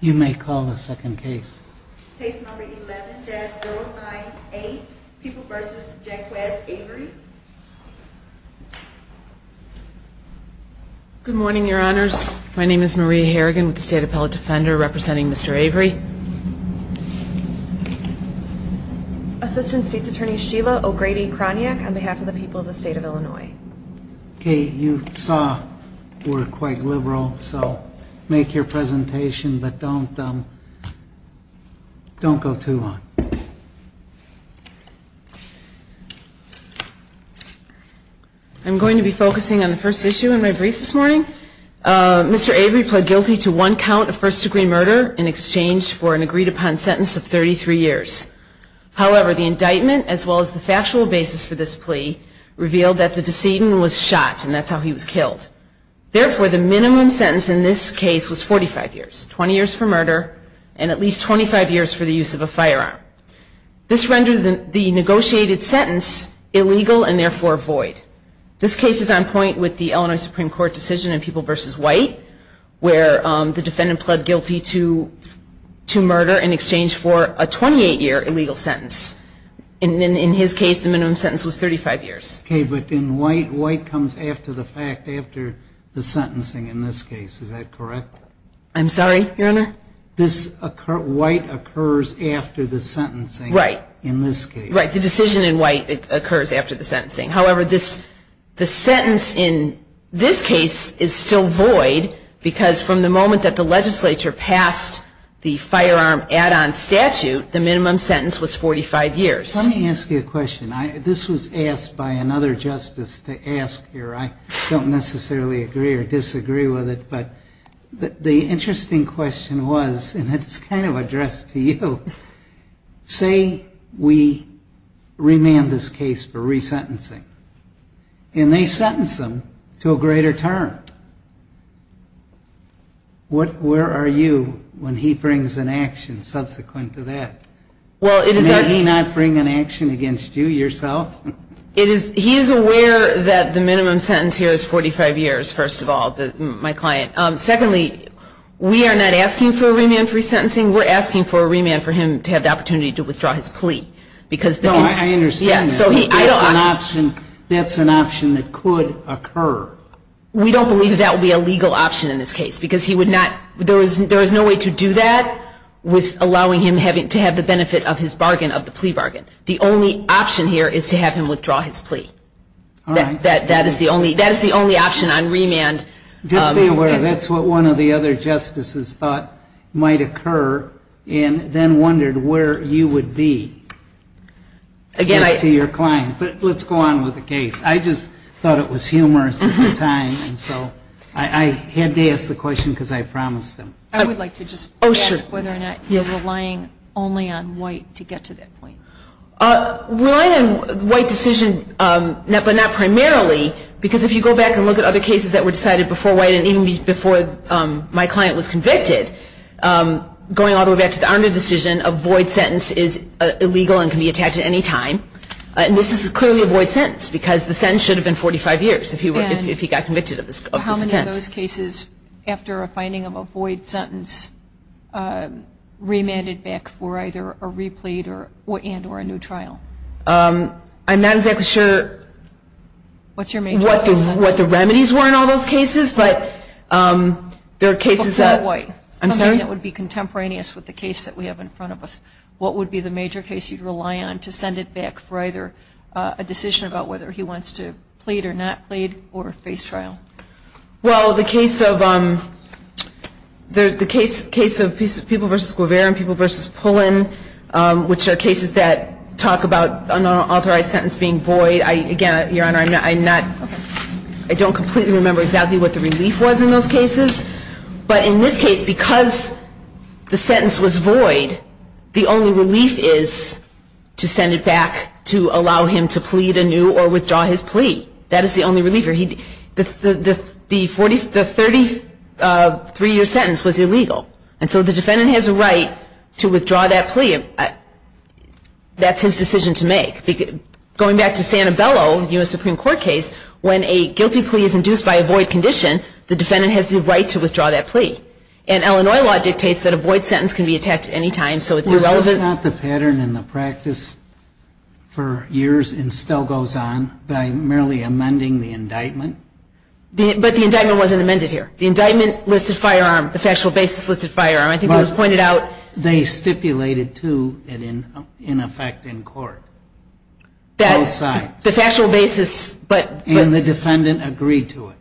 You may call the second case. Case number 11-098, People v. Jack West, Avery. Good morning, your honors. My name is Maria Harrigan with the State Appellate Defender representing Mr. Avery. Assistant State's Attorney Sheila O'Grady-Kroniak on behalf of the people of the state of Illinois. Kate, you saw we're quite liberal, so make your presentation, but don't go too long. I'm going to be focusing on the first issue in my brief this morning. Mr. Avery pled guilty to one count of first-degree murder in exchange for an agreed-upon sentence of 33 years. However, the indictment, as well as the factual basis for this plea, revealed that the decedent was shot, and that's how he was killed. Therefore, the minimum sentence in this case was 45 years, 20 years for murder, and at least 25 years for the use of a firearm. This rendered the negotiated sentence illegal and therefore void. This case is on point with the Illinois Supreme Court decision in People v. White, where the defendant pled guilty to murder in exchange for a 28-year illegal sentence. In his case, the minimum sentence was 35 years. Okay, but in White, White comes after the fact, after the sentencing in this case. Is that correct? I'm sorry, your honor? White occurs after the sentencing in this case. Right, the decision in White occurs after the sentencing. However, the sentence in this case is still void because from the moment that the legislature passed the firearm add-on statute, the minimum sentence was 45 years. Let me ask you a question. This was asked by another justice to ask here. I don't necessarily agree or disagree with it, but the interesting question was, and it's kind of addressed to you. Say we remand this case for resentencing, and they sentence him to a greater term. Where are you when he brings an action subsequent to that? May he not bring an action against you, yourself? He is aware that the minimum sentence here is 45 years, first of all, my client. Secondly, we are not asking for a remand for resentencing. We're asking for a remand for him to have the opportunity to withdraw his plea. No, I understand that. That's an option that could occur. We don't believe that would be a legal option in this case. There is no way to do that with allowing him to have the benefit of his bargain, of the plea bargain. The only option here is to have him withdraw his plea. That is the only option on remand. Just be aware, that's what one of the other justices thought might occur, and then wondered where you would be. But let's go on with the case. I just thought it was humorous at the time, and so I had to ask the question because I promised him. I would like to just ask whether or not you're relying only on white to get to that point. Relying on white decision, but not primarily, because if you go back and look at other cases that were decided before white, and even before my client was convicted, going all the way back to the under decision, a void sentence is illegal and can be attached at any time. And this is clearly a void sentence because the sentence should have been 45 years if he got convicted of this offense. What if those cases, after a finding of a void sentence, remanded back for either a replete and or a new trial? I'm not exactly sure what the remedies were in all those cases. But there are cases that. I'm sorry? That would be contemporaneous with the case that we have in front of us. What would be the major case you'd rely on to send it back for either a decision about whether he wants to plead or not plead or face trial? Well, the case of people versus Guevara and people versus Pullen, which are cases that talk about an unauthorized sentence being void. Again, Your Honor, I don't completely remember exactly what the relief was in those cases. But in this case, because the sentence was void, the only relief is to send it back to allow him to plead anew or withdraw his plea. That is the only reliever. The 33-year sentence was illegal. And so the defendant has a right to withdraw that plea. That's his decision to make. Going back to Sanibello, the U.S. Supreme Court case, when a guilty plea is induced by a void condition, the defendant has the right to withdraw that plea. And Illinois law dictates that a void sentence can be attacked at any time, so it's irrelevant. Well, isn't that the pattern in the practice for years and still goes on by merely amending the indictment? But the indictment wasn't amended here. The indictment listed firearm, the factual basis listed firearm. I think it was pointed out. They stipulated, too, in effect in court. Both sides. And the defendant agreed to it.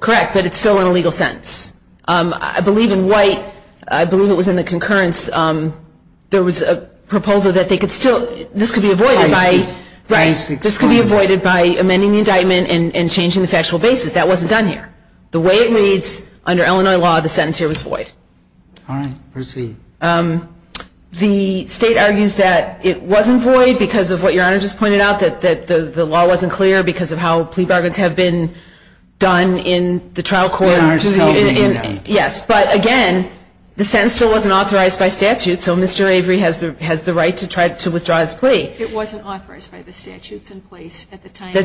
Correct, but it's still an illegal sentence. I believe in white, I believe it was in the concurrence. There was a proposal that this could be avoided by amending the indictment and changing the factual basis. That wasn't done here. The way it reads under Illinois law, the sentence here was void. The state argues that it wasn't void because of what your Honor just pointed out, that the law wasn't clear because of how plea bargains have been done in the trial court. Yes, but again, the sentence still wasn't authorized by statute, so Mr. Avery has the right to try to withdraw his plea. It wasn't authorized by the statutes in place at the time. The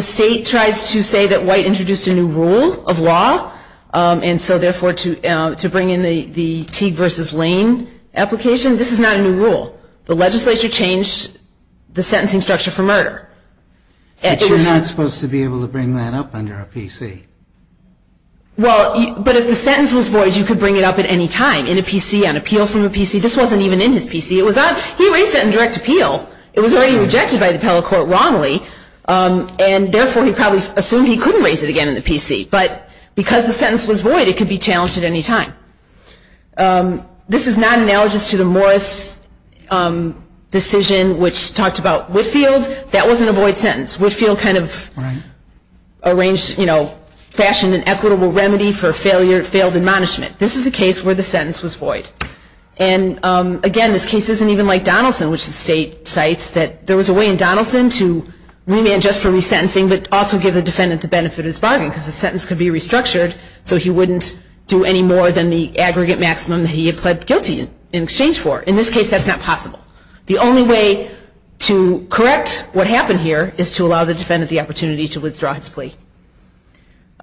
state tries to say that white introduced a new rule of law, and so therefore to bring in the Teague v. Lane application, this is not a new rule. The legislature changed the sentencing structure for murder. But you're not supposed to be able to bring that up under a PC. Well, but if the sentence was void, you could bring it up at any time, in a PC, on appeal from a PC. This wasn't even in his PC. He raised it in direct appeal. It was already rejected by the appellate court wrongly, and therefore he probably assumed he couldn't raise it again in the PC. But because the sentence was void, it could be challenged at any time. This is not analogous to the Morris decision which talked about Whitfield. That wasn't a void sentence. Whitfield kind of arranged, you know, fashioned an equitable remedy for failed admonishment. And again, this case isn't even like Donaldson, which the state cites. There was a way in Donaldson to remand just for resentencing, but also give the defendant the benefit of his bargain. Because the sentence could be restructured, so he wouldn't do any more than the aggregate maximum that he had pled guilty in exchange for. In this case, that's not possible. The only way to correct what happened here is to allow the defendant the opportunity to withdraw his plea.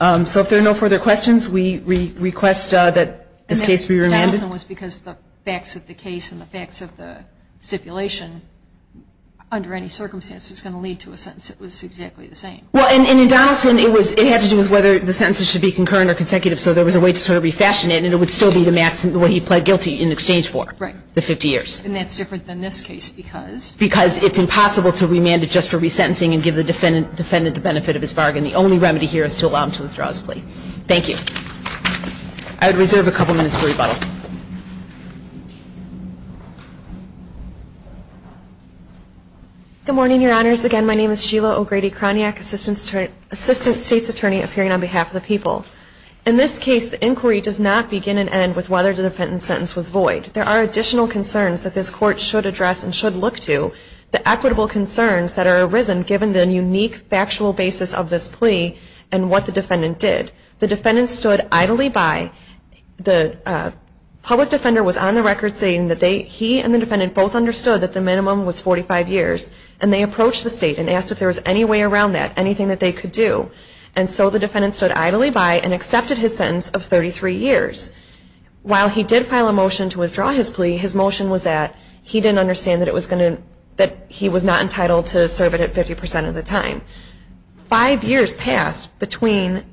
So if there are no further questions, we request that this case be remanded. Donaldson was because the facts of the case and the facts of the stipulation, under any circumstance, was going to lead to a sentence that was exactly the same. Well, and in Donaldson, it had to do with whether the sentence should be concurrent or consecutive, so there was a way to sort of refashion it, and it would still be the maximum, what he pled guilty in exchange for, the 50 years. And that's different than this case, because? Because it's impossible to remand it just for resentencing and give the defendant the benefit of his bargain. The only remedy here is to allow him to withdraw his plea. Thank you. I would reserve a couple minutes for rebuttal. Good morning, Your Honors. Again, my name is Sheila O'Grady-Kroniak, Assistant State's Attorney, appearing on behalf of the people. In this case, the inquiry does not begin and end with whether the defendant's sentence was void. There are additional concerns that this Court should address and should look to, the equitable concerns that are arisen given the unique factual basis of this plea and what the defendant did. The defendant stood idly by. The public defender was on the record saying that he and the defendant both understood that the minimum was 45 years, and they approached the State and asked if there was any way around that, anything that they could do. And so the defendant stood idly by and accepted his sentence of 33 years. While he did file a motion to withdraw his plea, his motion was that he didn't understand that it was going to, that he was not entitled to serve it at 50 percent of the time. Five years passed between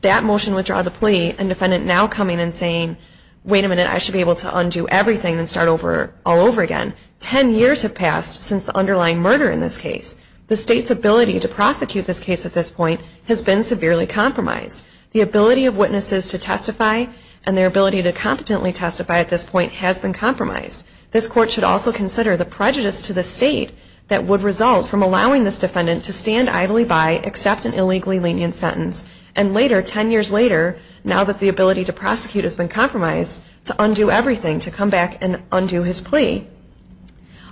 that motion to withdraw the plea and the defendant now coming and saying, wait a minute, I should be able to undo everything and start all over again. Ten years have passed since the underlying murder in this case. The State's ability to prosecute this case at this point has been severely compromised. The ability of witnesses to testify and their ability to competently testify at this point has been compromised. This Court should also consider the prejudice to the State that would result from allowing this defendant to stand idly by, accept an illegally lenient sentence, and later, ten years later, now that the ability to prosecute has been compromised, to undo everything, to come back and undo his plea.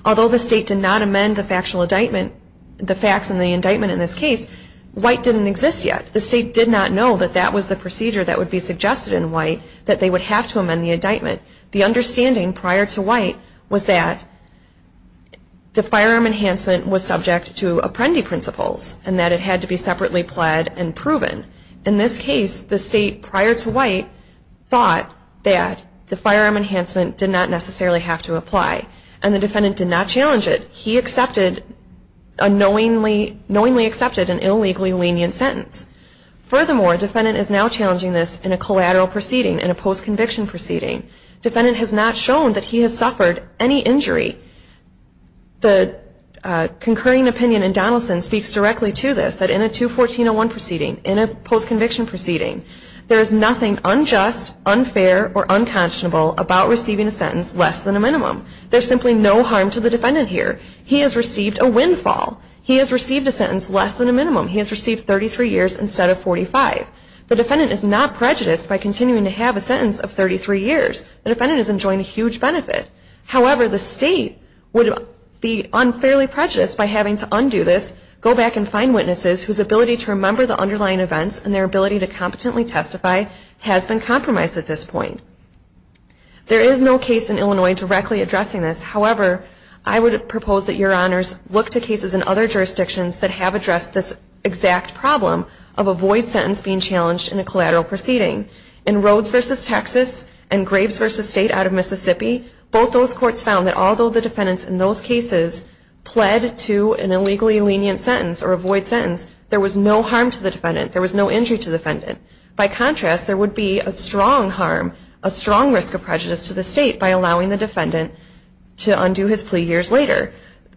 Although the State did not amend the factual indictment, the facts in the indictment in this case, White didn't exist yet. The State did not know that that was the procedure that would be suggested in White, that they would have to amend the indictment. The understanding prior to White was that the firearm enhancement was subject to Apprendi principles and that it had to be separately pled and proven. In this case, the State, prior to White, thought that the firearm enhancement did not necessarily have to apply. And the defendant did not challenge it. He knowingly accepted an illegally lenient sentence. Furthermore, defendant is now challenging this in a collateral proceeding, in a post-conviction proceeding. Defendant has not shown that he has suffered any injury. The concurring opinion in Donaldson speaks directly to this, that in a 214-01 proceeding, in a post-conviction proceeding, there is nothing unjust, unfair, or unconscionable about receiving a sentence less than a minimum. There is simply no harm to the defendant here. He has received a windfall. He has received a sentence less than a minimum. He has received 33 years instead of 45. The defendant is not prejudiced by continuing to have a sentence of 33 years. The defendant is enjoying a huge benefit. However, the State would be unfairly prejudiced by having to undo this, go back and find witnesses whose ability to remember the underlying events and their ability to competently testify has been compromised at this point. There is no case in Illinois directly addressing this. However, I would propose that Your Honors look to cases in other jurisdictions that have addressed this exact problem of a void sentence being challenged in a collateral proceeding. In Rhodes v. Texas and Graves v. State out of Mississippi, both those courts found that although the defendants in those cases pled to an illegally lenient sentence or a void sentence, there was no harm to the defendant. There was no injury to the defendant. By contrast, there would be a strong harm, a strong risk of prejudice to the State by allowing the defendant to undo his plea years later.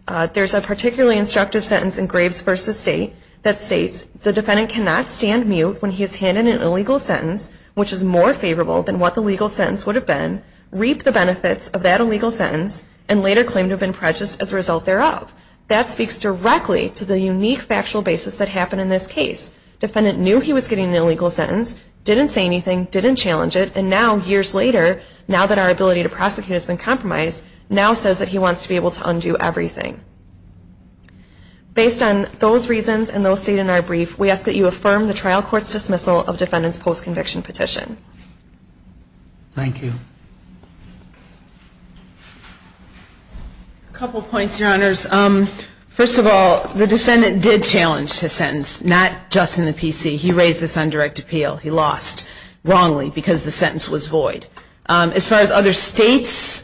There is a particularly instructive sentence in Graves v. State that states, the defendant cannot stand mute when he is handed an illegal sentence which is more favorable than what the legal sentence would have been, reap the benefits of that illegal sentence, and later claim to have been prejudiced as a result thereof. That speaks directly to the unique factual basis that happened in this case. The defendant knew he was getting an illegal sentence, didn't say anything, didn't challenge it, and now years later, now that our ability to prosecute has been compromised, now says that he wants to be able to undo everything. Based on those reasons and those stated in our brief, we ask that you affirm the trial court's dismissal of defendant's post-conviction petition. Thank you. A couple points, Your Honors. First of all, the defendant did challenge his sentence, not just in the PC. He raised this on direct appeal. He lost, wrongly, because the sentence was void. As far as other States'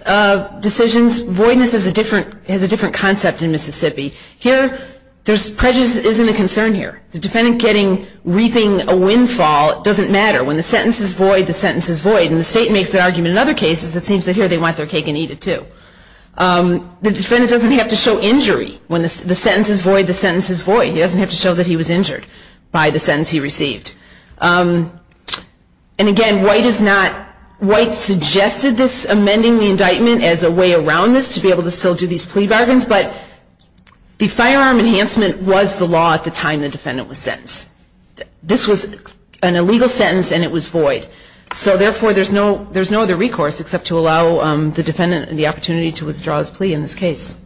decisions, voidness is a different, has a different concept in Mississippi. Here, prejudice isn't a concern here. The defendant getting, reaping a windfall doesn't matter. When the sentence is void, the sentence is void. And the State makes that argument in other cases, it seems that here they want their cake and eat it too. The defendant doesn't have to show injury. When the sentence is void, the sentence is void. He doesn't have to show that he was injured by the sentence he received. And again, White is not, White suggested this amending the indictment as a way around this to be able to still do these plea bargains, but the firearm enhancement was the law at the time the defendant was sentenced. This was an illegal sentence and it was void. So, therefore, there's no other recourse except to allow the defendant the opportunity to withdraw his plea in this case.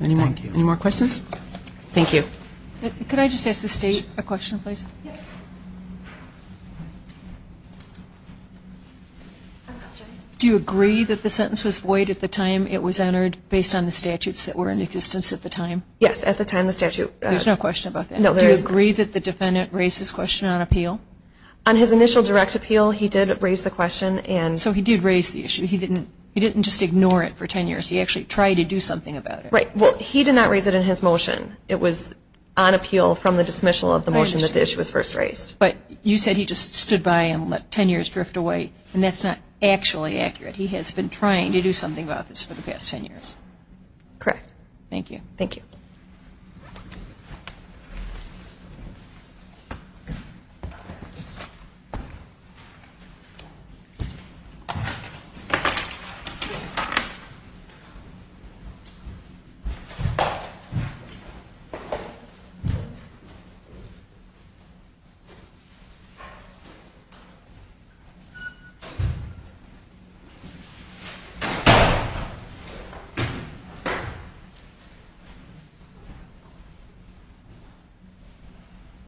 Any more questions? Thank you. Could I just ask the State a question, please? Do you agree that the sentence was void at the time it was entered based on the statutes that were in existence at the time? Yes, at the time the statute. There's no question about that. Do you agree that the defendant raised this question on appeal? On his initial direct appeal, he did raise the question. So he did raise the issue. He didn't just ignore it for 10 years. He actually tried to do something about it. Right. Well, he did not raise it in his motion. It was on appeal from the dismissal of the motion that the issue was first raised. But you said he just stood by and let 10 years drift away, and that's not actually accurate. He has been trying to do something about this for the past 10 years. Correct. Thank you.